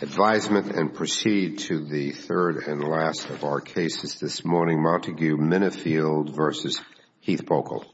Advisement and proceed to the third and last of our cases this morning, Montague Minnifield v. Heath Boackle.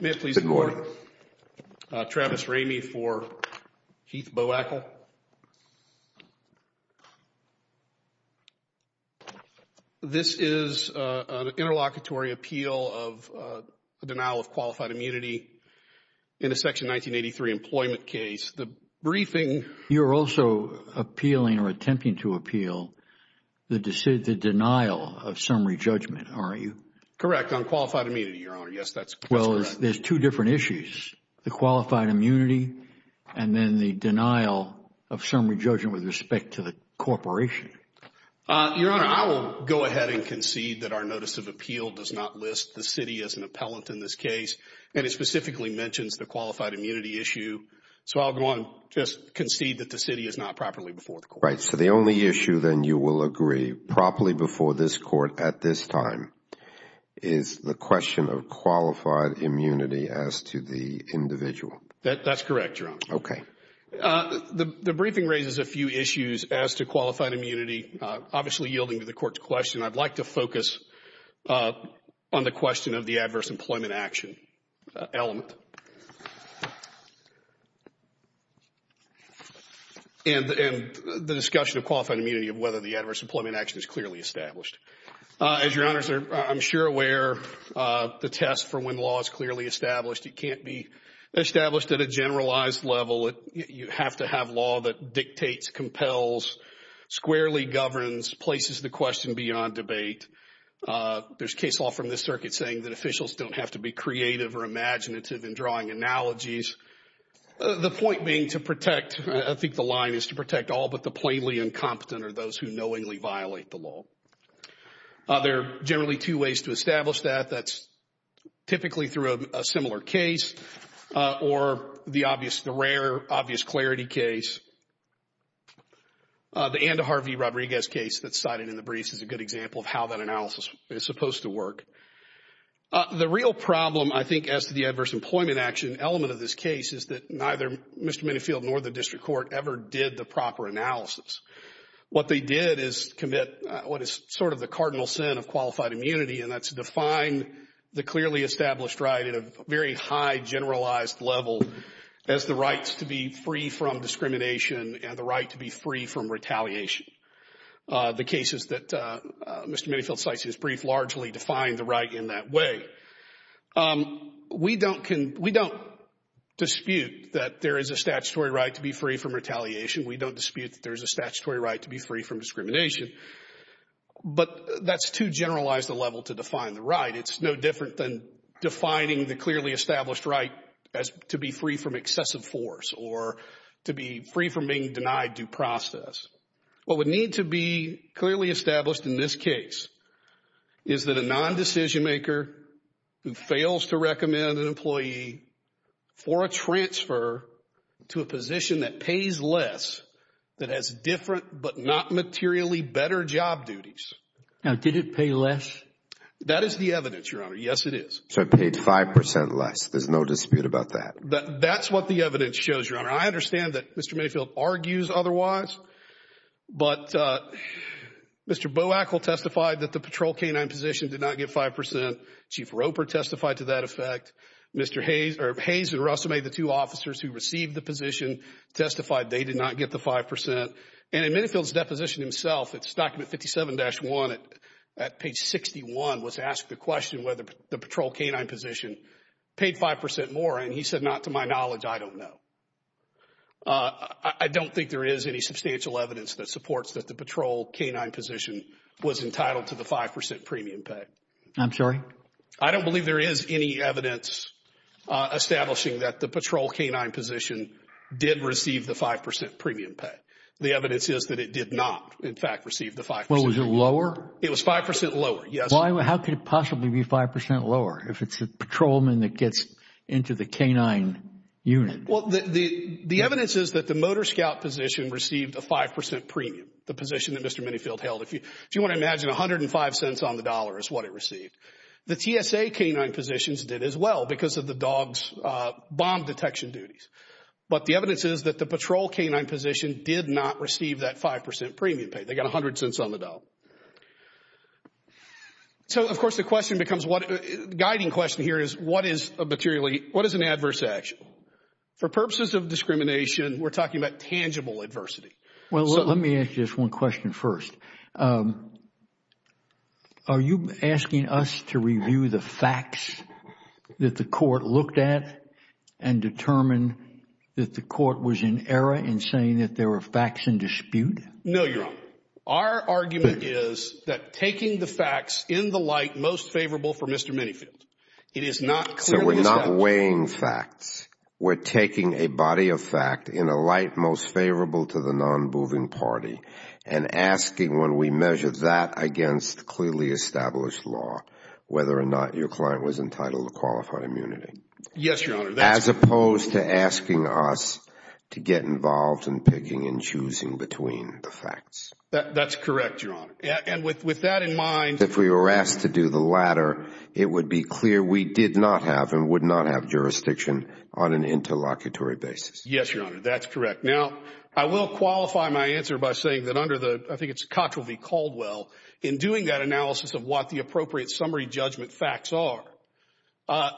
May it please the Court. Travis Ramey for Heath Boackle. This is an interlocutory appeal of denial of qualified immunity in a Section 1983 employment case. The briefing You're also appealing or attempting to appeal the denial of summary judgment, aren't you? Correct, on qualified immunity, Your Honor. Yes, that's correct. Well, there's two different issues, the qualified immunity and then the denial of summary judgment with respect to the corporation. Your Honor, I will go ahead and concede that our notice of appeal does not list the city as an appellant in this case, and it specifically mentions the qualified immunity issue. So I'll go on and just concede that the city is not properly before the Court. is the question of qualified immunity as to the individual. That's correct, Your Honor. Okay. The briefing raises a few issues as to qualified immunity, obviously yielding to the Court's question. I'd like to focus on the question of the adverse employment action element and the discussion of qualified immunity of whether the adverse employment action is clearly established. As Your Honor, I'm sure aware of the test for when law is clearly established. It can't be established at a generalized level. You have to have law that dictates, compels, squarely governs, places the question beyond debate. There's case law from this circuit saying that officials don't have to be creative or imaginative in drawing analogies. The point being to protect, I think the line is to protect all but the plainly incompetent or those who knowingly violate the law. There are generally two ways to establish that. That's typically through a similar case or the obvious, the rare obvious clarity case. The Andy Harvey Rodriguez case that's cited in the briefs is a good example of how that analysis is supposed to work. The real problem, I think, as to the adverse employment action element of this case is that neither Mr. Minifield nor the district court ever did the proper analysis. What they did is commit what is sort of the cardinal sin of qualified immunity, and that's define the clearly established right at a very high generalized level as the rights to be free from discrimination and the right to be free from retaliation. The cases that Mr. Minifield cites in his brief largely define the right in that way. We don't dispute that there is a statutory right to be free from retaliation. We don't dispute that there is a statutory right to be free from discrimination. But that's too generalized a level to define the right. It's no different than defining the clearly established right as to be free from excessive force or to be free from being denied due process. What would need to be clearly established in this case is that a non-decision maker who fails to recommend an employee for a transfer to a position that pays less, that has different but not materially better job duties. Now, did it pay less? That is the evidence, Your Honor. Yes, it is. So it paid 5% less. There's no dispute about that. That's what the evidence shows, Your Honor. I understand that Mr. Minifield argues otherwise. But Mr. Boakle testified that the patrol canine position did not get 5%. Chief Roper testified to that effect. Mr. Hayes and Russell made the two officers who received the position testified they did not get the 5%. And in Minifield's deposition himself, it's document 57-1 at page 61 was asked the question whether the patrol canine position paid 5% more. And he said, not to my knowledge, I don't know. I don't think there is any substantial evidence that supports that the patrol canine position was entitled to the 5% premium pay. I'm sorry? I don't believe there is any evidence establishing that the patrol canine position did receive the 5% premium pay. The evidence is that it did not, in fact, receive the 5%. Was it lower? It was 5% lower, yes. How could it possibly be 5% lower if it's a patrolman that gets into the canine unit? Well, the evidence is that the motor scout position received a 5% premium, the position that Mr. Minifield held. If you want to imagine, 105 cents on the dollar is what it received. The TSA canine positions did as well because of the dog's bomb detection duties. But the evidence is that the patrol canine position did not receive that 5% premium pay. They got 100 cents on the dollar. So, of course, the guiding question here is what is an adverse action? For purposes of discrimination, we're talking about tangible adversity. Well, let me ask you this one question first. Are you asking us to review the facts that the court looked at and determined that the court was in error in saying that there were facts in dispute? No, you're wrong. Our argument is that taking the facts in the light most favorable for Mr. Minifield, it is not clear to the statute. So we're not weighing facts. We're taking a body of fact in a light most favorable to the non-moving party and asking when we measure that against clearly established law, whether or not your client was entitled to qualified immunity. Yes, Your Honor. As opposed to asking us to get involved in picking and choosing between the facts. That's correct, Your Honor. And with that in mind. If we were asked to do the latter, it would be clear we did not have and would not have jurisdiction on an interlocutory basis. Yes, Your Honor. That's correct. Now, I will qualify my answer by saying that under the, I think it's Cotterill v. Caldwell, in doing that analysis of what the appropriate summary judgment facts are,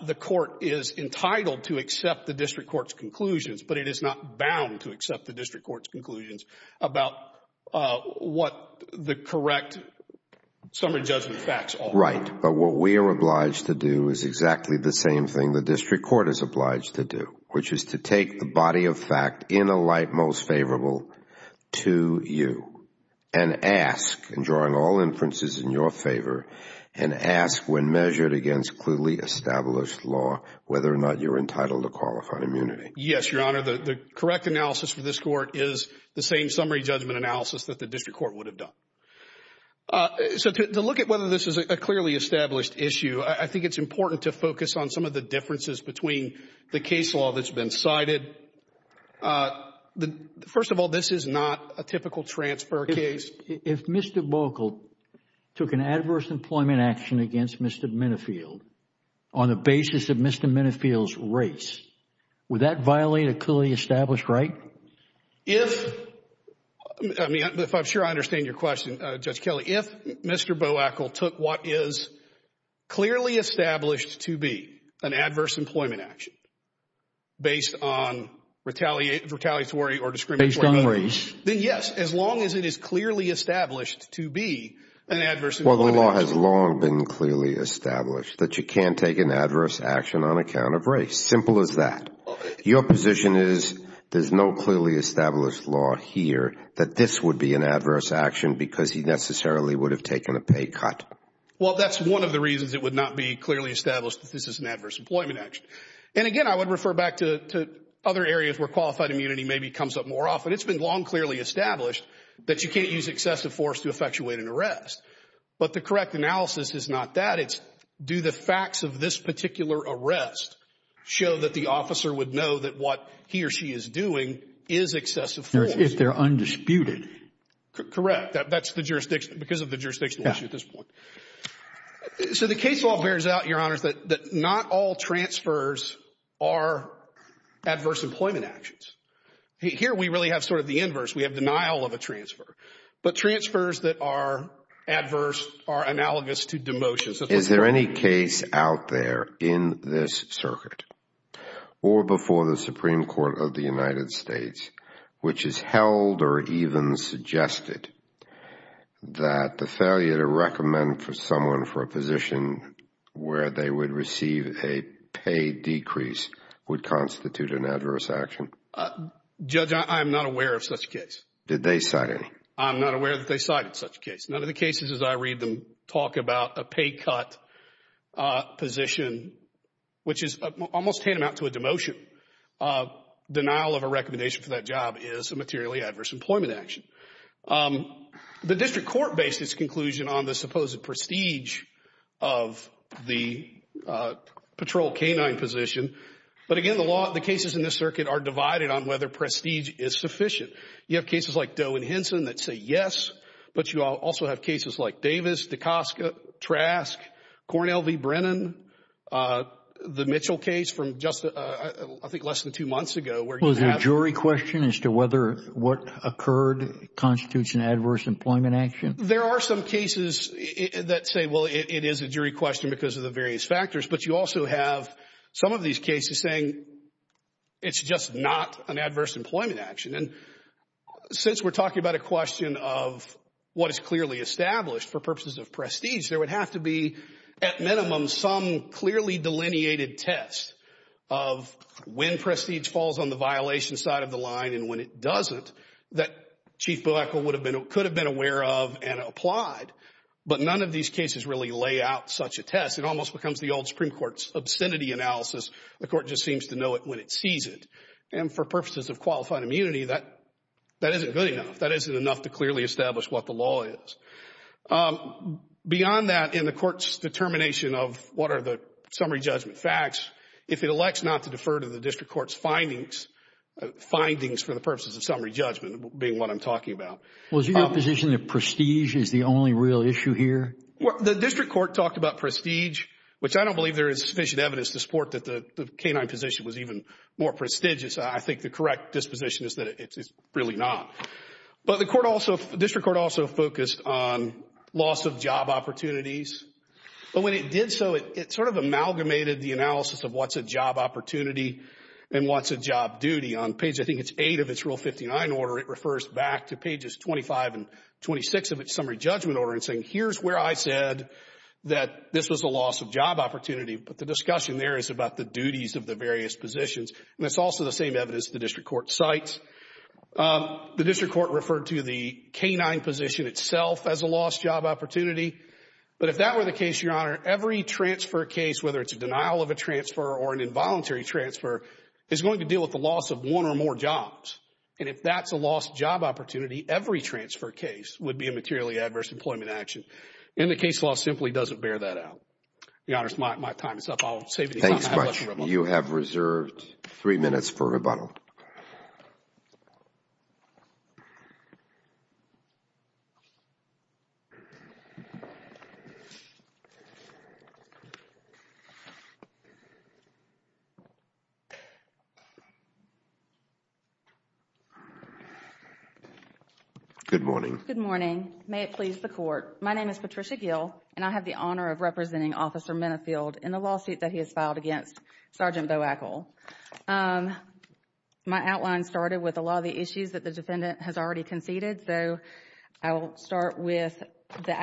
the court is entitled to accept the district court's conclusions, but it is not bound to accept the district court's conclusions about what the correct summary judgment facts are. Right. But what we are obliged to do is exactly the same thing the district court is obliged to do, which is to take the body of fact in a light most favorable to you and ask, and drawing all inferences in your favor, and ask when measured against clearly established law, whether or not you're entitled to qualified immunity. Yes, Your Honor. The correct analysis for this court is the same summary judgment analysis that the district court would have done. So to look at whether this is a clearly established issue, I think it's important to focus on some of the differences between the case law that's been cited. First of all, this is not a typical transfer case. If Mr. Bogle took an adverse employment action against Mr. Minifield on the basis of Mr. Minifield's race, would that violate a clearly established right? If I'm sure I understand your question, Judge Kelly, if Mr. Bogle took what is clearly established to be an adverse employment action based on retaliatory or discriminatory means, then yes, as long as it is clearly established to be an adverse employment action. Well, the law has long been clearly established that you can't take an adverse action on account of race. Simple as that. Your position is there's no clearly established law here that this would be an adverse action because he necessarily would have taken a pay cut. Well, that's one of the reasons it would not be clearly established that this is an adverse employment action. And again, I would refer back to other areas where qualified immunity maybe comes up more often. It's been long clearly established that you can't use excessive force to effectuate an arrest. But the correct analysis is not that. Do the facts of this particular arrest show that the officer would know that what he or she is doing is excessive force? If they're undisputed. Correct. That's because of the jurisdictional issue at this point. So the case law bears out, Your Honors, that not all transfers are adverse employment actions. Here we really have sort of the inverse. We have denial of a transfer. But transfers that are adverse are analogous to demotions. Is there any case out there in this circuit or before the Supreme Court of the United States which has held or even suggested that the failure to recommend for someone for a position where they would receive a pay decrease would constitute an adverse action? Judge, I'm not aware of such a case. Did they cite any? I'm not aware that they cited such a case. None of the cases as I read them talk about a pay cut position, which is almost tantamount to a demotion. Denial of a recommendation for that job is a materially adverse employment action. The district court based its conclusion on the supposed prestige of the patrol canine position. But again, the cases in this circuit are divided on whether prestige is sufficient. You have cases like Doe and Henson that say yes, but you also have cases like Davis, Dacoska, Trask, Cornell v. Brennan, the Mitchell case from just, I think, less than two months ago. Was there a jury question as to whether what occurred constitutes an adverse employment action? There are some cases that say, well, it is a jury question because of the various factors. But you also have some of these cases saying it's just not an adverse employment action. And since we're talking about a question of what is clearly established for purposes of prestige, there would have to be at minimum some clearly delineated test of when prestige falls on the violation side of the line and when it doesn't that Chief Boekel could have been aware of and applied. But none of these cases really lay out such a test. It almost becomes the old Supreme Court's obscenity analysis. The court just seems to know it when it sees it. And for purposes of qualifying immunity, that isn't good enough. That isn't enough to clearly establish what the law is. Beyond that, in the court's determination of what are the summary judgment facts, if it elects not to defer to the district court's findings for the purposes of summary judgment, being what I'm talking about. Was it your position that prestige is the only real issue here? The district court talked about prestige, which I don't believe there is sufficient evidence to support that the canine position was even more prestigious. I think the correct disposition is that it's really not. But the district court also focused on loss of job opportunities. But when it did so, it sort of amalgamated the analysis of what's a job opportunity and what's a job duty. On page, I think it's 8 of its Rule 59 order, it refers back to pages 25 and 26 of its summary judgment order and saying here's where I said that this was a loss of job opportunity. But the discussion there is about the duties of the various positions. And it's also the same evidence the district court cites. The district court referred to the canine position itself as a lost job opportunity. But if that were the case, Your Honor, every transfer case, whether it's a denial of a transfer or an involuntary transfer, is going to deal with the loss of one or more jobs. And if that's a lost job opportunity, every transfer case would be a materially adverse employment action. And the case law simply doesn't bear that out. Your Honor, my time is up. I'll save you time. Thank you so much. You have reserved three minutes for rebuttal. Good morning. Good morning. May it please the Court. My name is Patricia Gill and I have the honor of representing Officer Minifield in the lawsuit that he has filed against Sergeant Boakle. My outline started with a lot of the issues that the defendant has already conceded. So I will start with the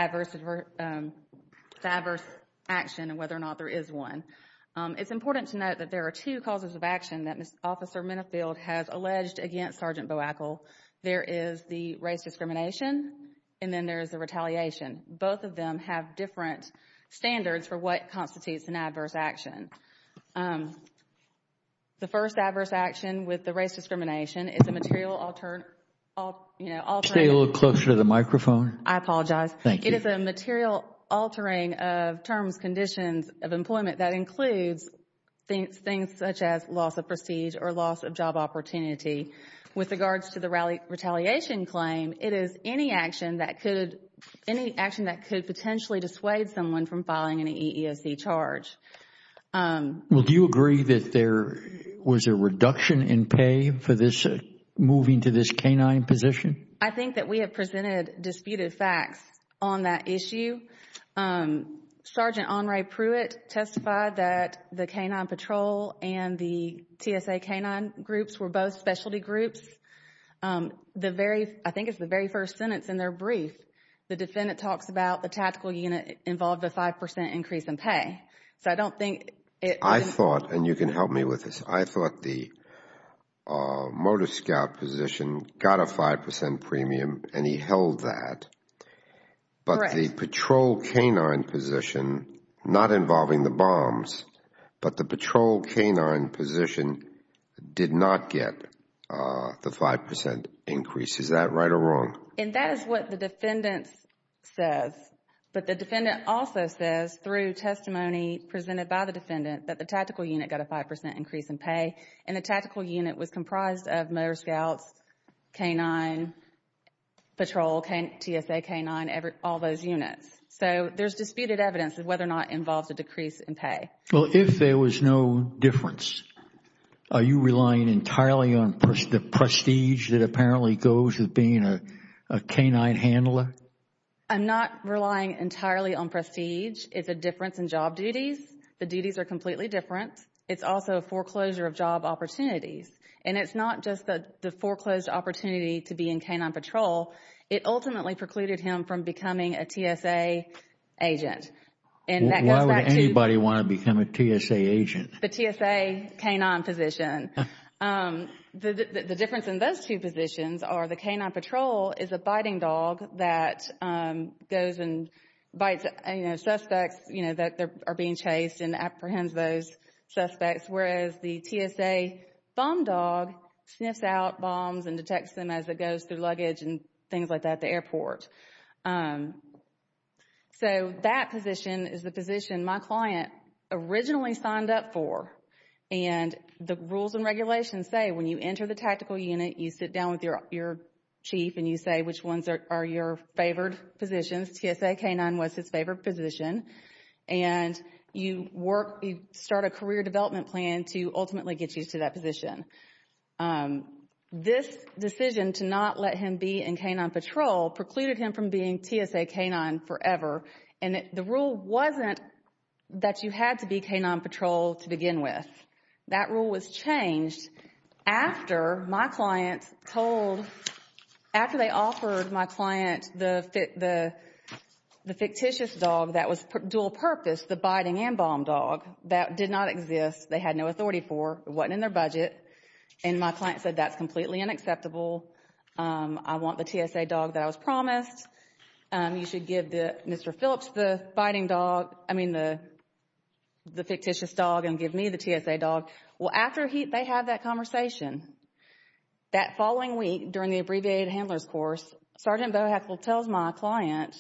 adverse action and whether or not there is one. It's important to note that there are two causes of action that Officer Minifield has alleged against Sergeant Boakle. There is the race discrimination and then there is the retaliation. Both of them have different standards for what constitutes an adverse action. The first adverse action with the race discrimination is a material alternative. Stay a little closer to the microphone. I apologize. Thank you. It is a material altering of terms, conditions of employment that includes things such as loss of prestige or loss of job opportunity. With regards to the retaliation claim, it is any action that could potentially dissuade someone from filing an EEOC charge. Do you agree that there was a reduction in pay for moving to this canine position? I think that we have presented disputed facts on that issue. Sergeant Henri Pruitt testified that the canine patrol and the TSA canine groups were both specialty groups. I think it's the very first sentence in their brief. The defendant talks about the tactical unit involved a 5% increase in pay. So I don't think it... I thought, and you can help me with this, I thought the motor scout position got a 5% premium and he held that. Correct. The patrol canine position, not involving the bombs, but the patrol canine position did not get the 5% increase. Is that right or wrong? That is what the defendant says. But the defendant also says through testimony presented by the defendant that the tactical unit got a 5% increase in pay and the tactical unit was comprised of motor scouts, canine patrol, TSA canine, all those units. So there's disputed evidence of whether or not it involves a decrease in pay. Well, if there was no difference, are you relying entirely on the prestige that apparently goes with being a canine handler? I'm not relying entirely on prestige. It's a difference in job duties. The duties are completely different. It's also a foreclosure of job opportunities. And it's not just the foreclosed opportunity to be in canine patrol. It ultimately precluded him from becoming a TSA agent. Why would anybody want to become a TSA agent? The TSA canine position. The difference in those two positions are the canine patrol is a biting dog that goes and bites suspects that are being chased and apprehends those suspects, whereas the TSA bomb dog sniffs out bombs and detects them as it goes through luggage and things like that at the airport. So that position is the position my client originally signed up for. And the rules and regulations say when you enter the tactical unit, you sit down with your chief and you say which ones are your favored positions. TSA canine was his favorite position. And you start a career development plan to ultimately get you to that position. This decision to not let him be in canine patrol precluded him from being TSA canine forever. And the rule wasn't that you had to be canine patrol to begin with. That rule was changed after my client told, after they offered my client the fictitious dog that was dual purpose, the biting and bomb dog, that did not exist, they had no authority for, it wasn't in their budget, and my client said that's completely unacceptable. I want the TSA dog that I was promised. You should give Mr. Phillips the biting dog, I mean the fictitious dog, and give me the TSA dog. Well, after they had that conversation, that following week during the abbreviated handler's course, Sergeant Boeheckle tells my client,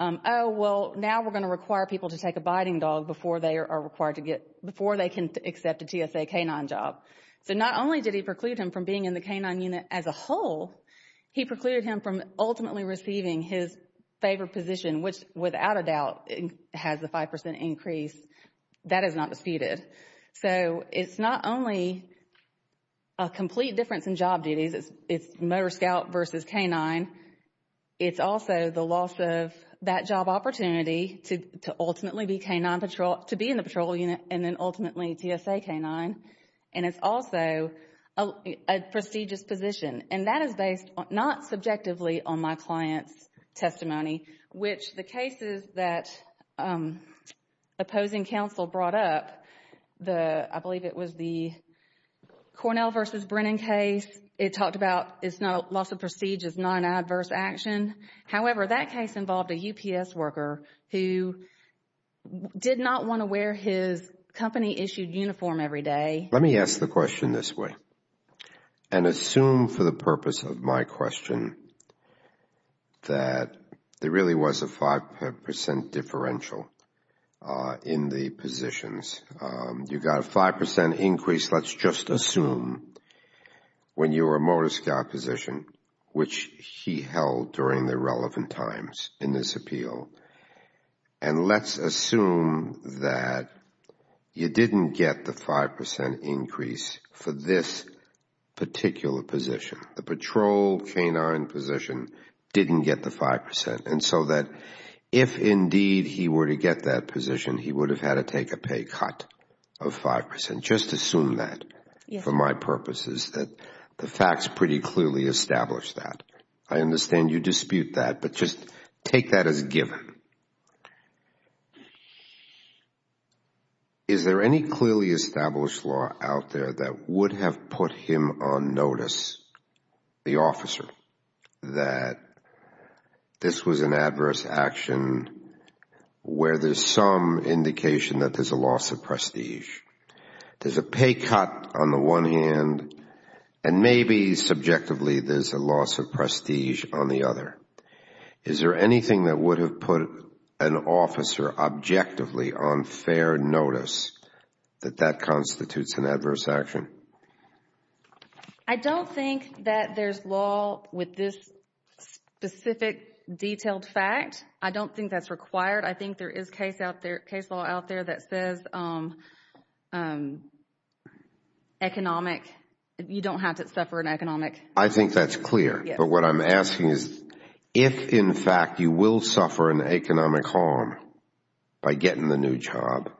oh, well, now we're going to require people to take a biting dog before they are required to get, before they can accept a TSA canine job. So not only did he preclude him from being in the canine unit as a whole, he precluded him from ultimately receiving his favorite position, which without a doubt has a 5% increase. That is not disputed. So it's not only a complete difference in job duties, it's motor scout versus canine, it's also the loss of that job opportunity to ultimately be canine patrol, to be in the patrol unit, and then ultimately TSA canine, and it's also a prestigious position. And that is based not subjectively on my client's testimony, which the cases that opposing counsel brought up, I believe it was the Cornell versus Brennan case, it talked about it's not a loss of prestige, it's not an adverse action. However, that case involved a UPS worker who did not want to wear his company issued uniform every day. Let me ask the question this way and assume for the purpose of my question that there really was a 5% differential in the positions. You got a 5% increase, let's just assume, when you were a motor scout position, which he held during the relevant times in this appeal. And let's assume that you didn't get the 5% increase for this particular position. The patrol canine position didn't get the 5%, and so that if indeed he were to get that position, he would have had to take a pay cut of 5%. Just assume that for my purposes that the facts pretty clearly establish that. I understand you dispute that, but just take that as given. Is there any clearly established law out there that would have put him on notice, the officer, that this was an adverse action where there's some indication that there's a loss of prestige? There's a pay cut on the one hand and maybe subjectively there's a loss of prestige on the other. Is there anything that would have put an officer objectively on fair notice that that constitutes an adverse action? I don't think that there's law with this specific detailed fact. I don't think that's required. I think there is case law out there that says economic, you don't have to suffer an economic. I think that's clear. But what I'm asking is if in fact you will suffer an economic harm by getting the new job.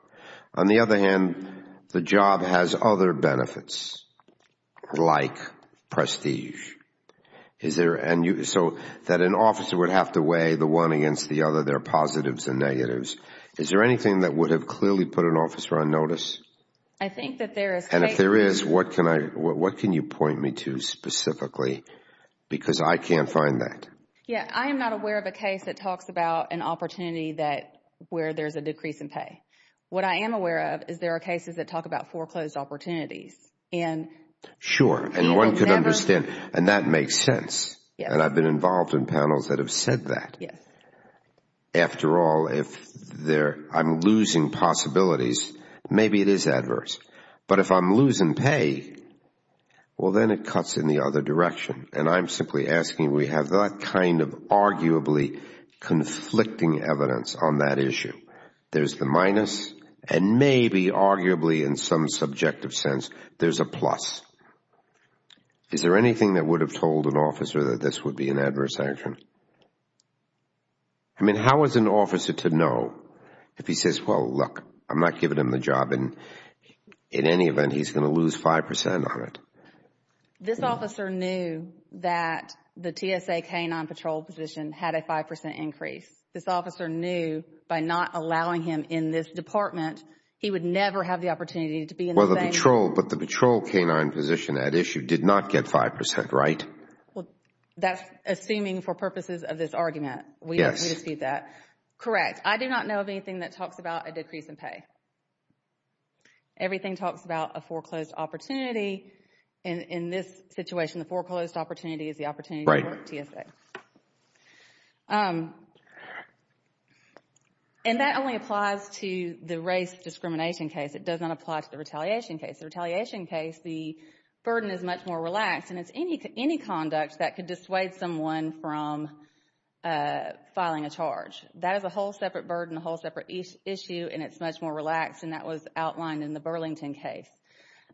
On the other hand, the job has other benefits like prestige. So that an officer would have to weigh the one against the other, there are positives and negatives. Is there anything that would have clearly put an officer on notice? I think that there is. If there is, what can you point me to specifically because I can't find that? I am not aware of a case that talks about an opportunity where there's a decrease in pay. What I am aware of is there are cases that talk about foreclosed opportunities. Sure, and one could understand and that makes sense. I've been involved in panels that have said that. After all, if I'm losing possibilities, maybe it is adverse. But if I'm losing pay, well then it cuts in the other direction. And I'm simply asking we have that kind of arguably conflicting evidence on that issue. There's the minus and maybe arguably in some subjective sense, there's a plus. Is there anything that would have told an officer that this would be an adverse action? I mean, how is an officer to know if he says, well, look, I'm not giving him the job and in any event, he's going to lose 5% on it? This officer knew that the TSA canine patrol position had a 5% increase. This officer knew by not allowing him in this department, he would never have the opportunity to be in the same. But the patrol canine position at issue did not get 5%, right? That's assuming for purposes of this argument. Yes. We dispute that. Correct. I do not know of anything that talks about a decrease in pay. Everything talks about a foreclosed opportunity. In this situation, the foreclosed opportunity is the opportunity for TSA. Right. And that only applies to the race discrimination case. It does not apply to the retaliation case. The retaliation case, the burden is much more relaxed. And it's any conduct that could dissuade someone from filing a charge. That is a whole separate burden, a whole separate issue, and it's much more relaxed. And that was outlined in the Burlington case.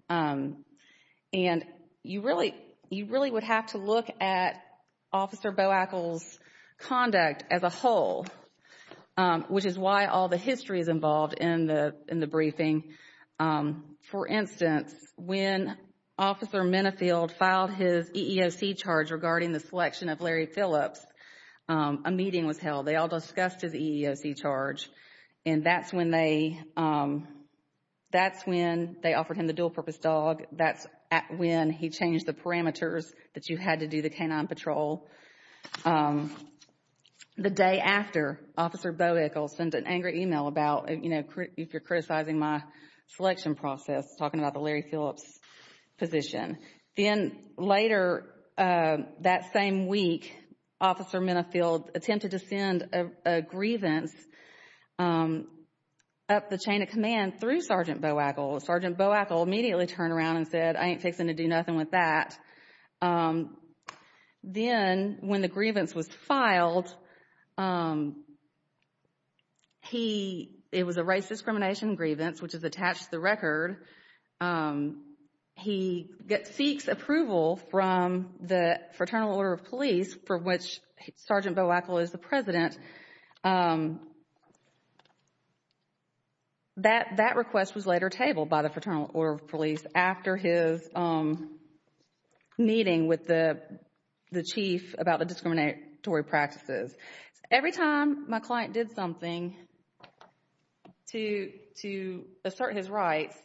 And you really would have to look at Officer Boakle's conduct as a whole, which is why all the history is involved in the briefing. For instance, when Officer Mennefield filed his EEOC charge regarding the selection of Larry Phillips, a meeting was held. They all discussed his EEOC charge. And that's when they offered him the dual-purpose dog. That's when he changed the parameters that you had to do the canine patrol. The day after, Officer Boakle sent an angry email about, you know, if you're criticizing my selection process, talking about the Larry Phillips position. Then later that same week, Officer Mennefield attempted to send a grievance up the chain of command through Sergeant Boakle. Sergeant Boakle immediately turned around and said, I ain't fixing to do nothing with that. Then when the grievance was filed, it was a race discrimination grievance, which is attached to the record. He seeks approval from the Fraternal Order of Police, for which Sergeant Boakle is the president. That request was later tabled by the Fraternal Order of Police after his meeting with the chief about the discriminatory practices. Every time my client did something to assert his rights,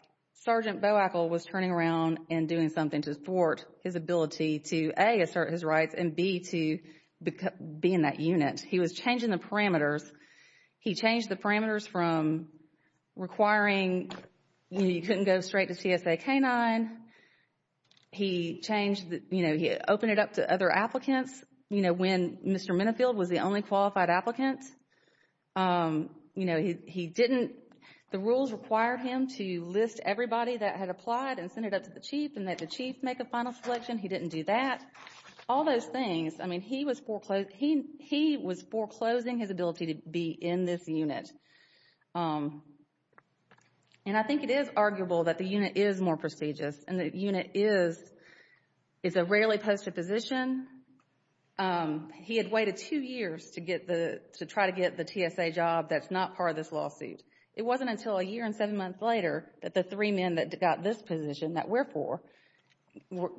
Sergeant Boakle was turning around and doing something to thwart his ability to, A, assert his rights, and B, to be in that unit. He was changing the parameters. He changed the parameters from requiring, you know, you couldn't go straight to CSA canine. He changed, you know, he opened it up to other applicants. You know, when Mr. Mennefield was the only qualified applicant, you know, he didn't, the rules required him to list everybody that had applied and send it up to the chief and let the chief make a final selection. He didn't do that. All those things. I mean, he was foreclosing his ability to be in this unit. And I think it is arguable that the unit is more prestigious and the unit is a rarely posted position. He had waited two years to try to get the TSA job that's not part of this lawsuit. It wasn't until a year and seven months later that the three men that got this position, that we're for,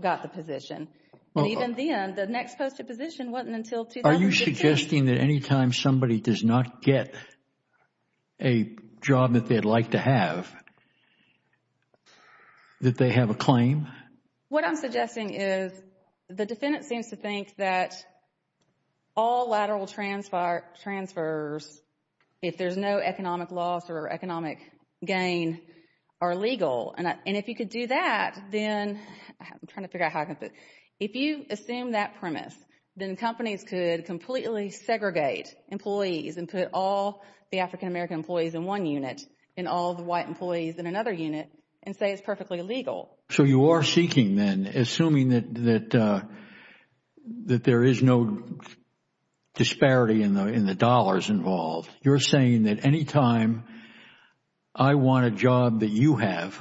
got the position. And even then, the next posted position wasn't until 2015. Are you suggesting that any time somebody does not get a job that they'd like to have, that they have a claim? What I'm suggesting is the defendant seems to think that all lateral transfers, if there's no economic loss or economic gain, are legal. And if you could do that, then, I'm trying to figure out how I can put, if you assume that premise, then companies could completely segregate employees and put all the African-American employees in one unit and all the white employees in another unit and say it's perfectly legal. So you are seeking then, assuming that there is no disparity in the dollars involved, you're saying that any time I want a job that you have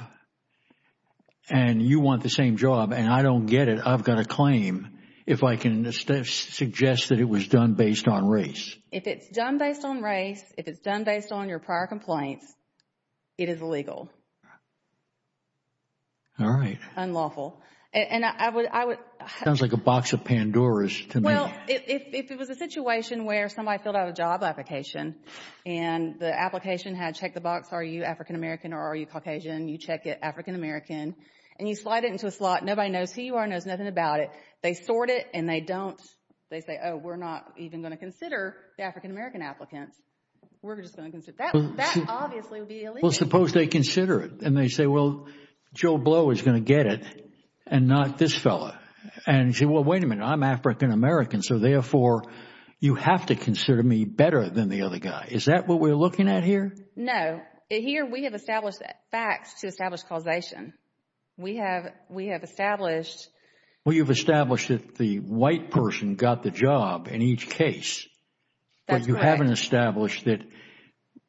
and you want the same job and I don't get it, I've got a claim, if I can suggest that it was done based on race. If it's done based on race, if it's done based on your prior compliance, it is illegal. All right. Unlawful. It sounds like a box of Pandoras to me. Well, if it was a situation where somebody filled out a job application and the application had checked the box, are you African-American or are you Caucasian? You check it, African-American, and you slide it into a slot. Nobody knows who you are, knows nothing about it. They sort it and they don't, they say, oh, we're not even going to consider the African-American applicants. We're just going to consider, that obviously would be illegal. Well, suppose they consider it and they say, well, Joe Blow is going to get it and not this fellow. And you say, well, wait a minute, I'm African-American, so therefore you have to consider me better than the other guy. Is that what we're looking at here? No. Here we have established facts to establish causation. We have established... Well, you've established that the white person got the job in each case. That's correct. You've established that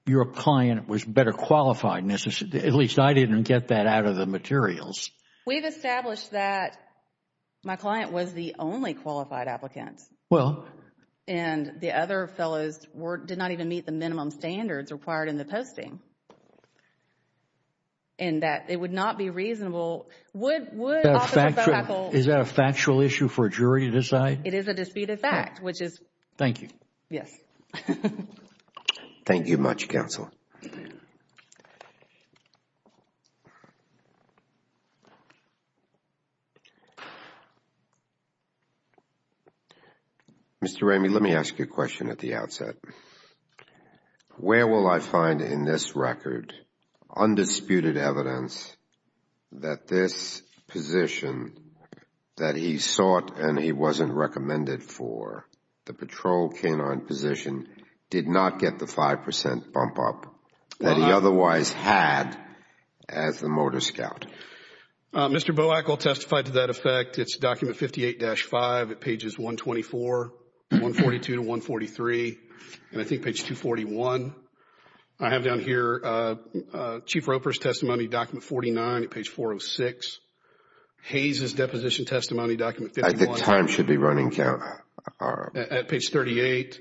your client was better qualified. At least I didn't get that out of the materials. We've established that my client was the only qualified applicant. Well... And the other fellows did not even meet the minimum standards required in the posting and that it would not be reasonable... Is that a factual issue for a jury to decide? It is a disputed fact, which is... Thank you. Yes. Thank you much, Counsel. Mr. Ramey, let me ask you a question at the outset. Where will I find in this record undisputed evidence that this position that he sought and he wasn't recommended for the patrol canine position did not get the 5% bump up that he otherwise had as the motor scout? Mr. Boakle testified to that effect. It's document 58-5 at pages 124, 142 to 143, and I think page 241. I have down here Chief Roper's testimony, document 49 at page 406. Hayes' deposition testimony, document 51... I think time should be running, Carol. All right. At page 38.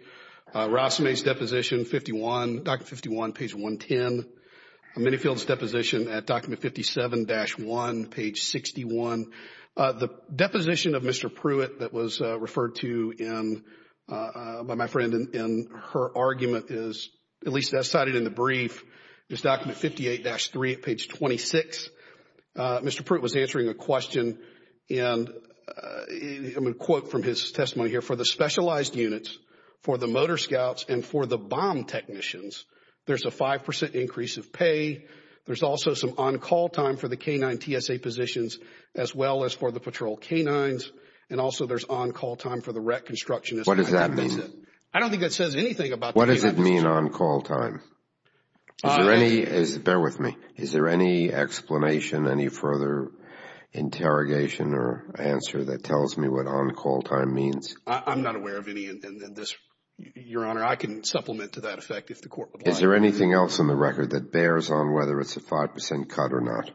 Rossmay's deposition, 51, document 51, page 110. Manyfield's deposition at document 57-1, page 61. The deposition of Mr. Pruitt that was referred to by my friend in her argument is, at least as cited in the brief, is document 58-3 at page 26. Mr. Pruitt was answering a question, and I'm going to quote from his testimony here, for the specialized units, for the motor scouts, and for the bomb technicians, there's a 5% increase of pay. There's also some on-call time for the canine TSA positions as well as for the patrol canines, and also there's on-call time for the rec constructionists. What does that mean? I don't think that says anything about... What does it mean on-call time? Bear with me. Is there any explanation, any further interrogation or answer that tells me what on-call time means? I'm not aware of any in this, Your Honor. I can supplement to that effect if the Court applies. Is there anything else in the record that bears on whether it's a 5% cut or not?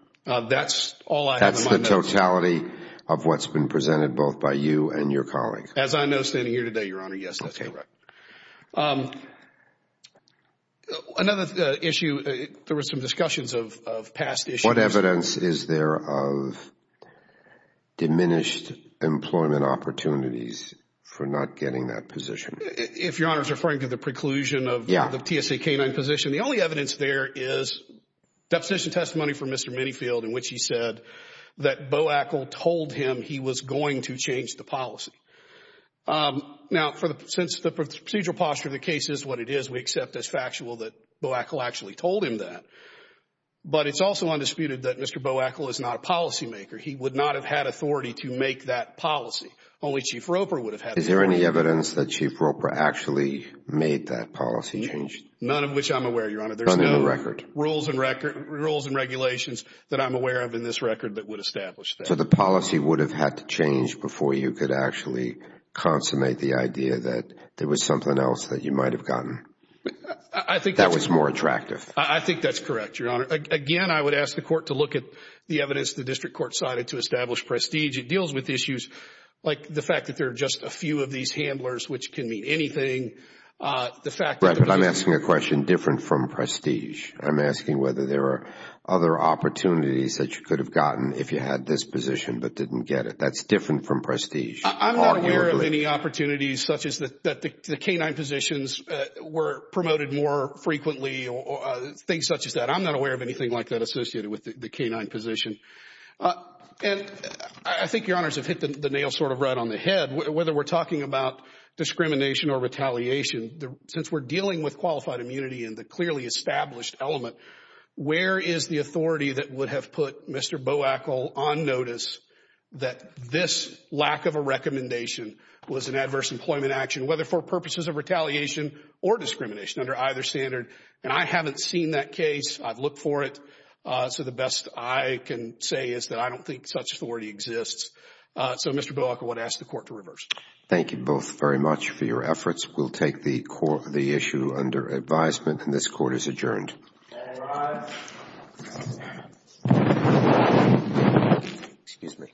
That's all I have in my notes. That's the totality of what's been presented both by you and your colleague. As I know, standing here today, Your Honor, yes, that's correct. Okay. Another issue, there were some discussions of past issues. What evidence is there of diminished employment opportunities for not getting that position? If Your Honor is referring to the preclusion of the TSA canine position, the only evidence there is deposition testimony from Mr. Minifield in which he said that Boakle told him he was going to change the policy. Now, since the procedural posture of the case is what it is, we accept as factual that Boakle actually told him that. But it's also undisputed that Mr. Boakle is not a policymaker. He would not have had authority to make that policy. Only Chief Roper would have had the authority. Is there any evidence that Chief Roper actually made that policy change? None of which I'm aware, Your Honor. None in the record? There's no rules and regulations that I'm aware of in this record that would establish that. So the policy would have had to change before you could actually consummate the idea that there was something else that you might have gotten that was more attractive? I think that's correct, Your Honor. Again, I would ask the court to look at the evidence the district court cited to establish prestige. It deals with issues like the fact that there are just a few of these handlers, which can mean anything. I'm asking a question different from prestige. I'm asking whether there are other opportunities that you could have gotten if you had this position but didn't get it. That's different from prestige. Arguably. I'm not aware of any opportunities such as that the canine positions were promoted more frequently or things such as that. I'm not aware of anything like that associated with the canine position. And I think Your Honors have hit the nail sort of right on the head. Whether we're talking about discrimination or retaliation, since we're dealing with qualified immunity and the clearly established element, where is the authority that would have put Mr. Boakle on notice that this lack of a recommendation was an adverse employment action, whether for purposes of retaliation or discrimination, under either standard? And I haven't seen that case. I've looked for it. So the best I can say is that I don't think such authority exists. So Mr. Boakle, I would ask the court to reverse. Thank you both very much for your efforts. We'll take the issue under advisement. And this court is adjourned. All rise. Excuse me. Thank you.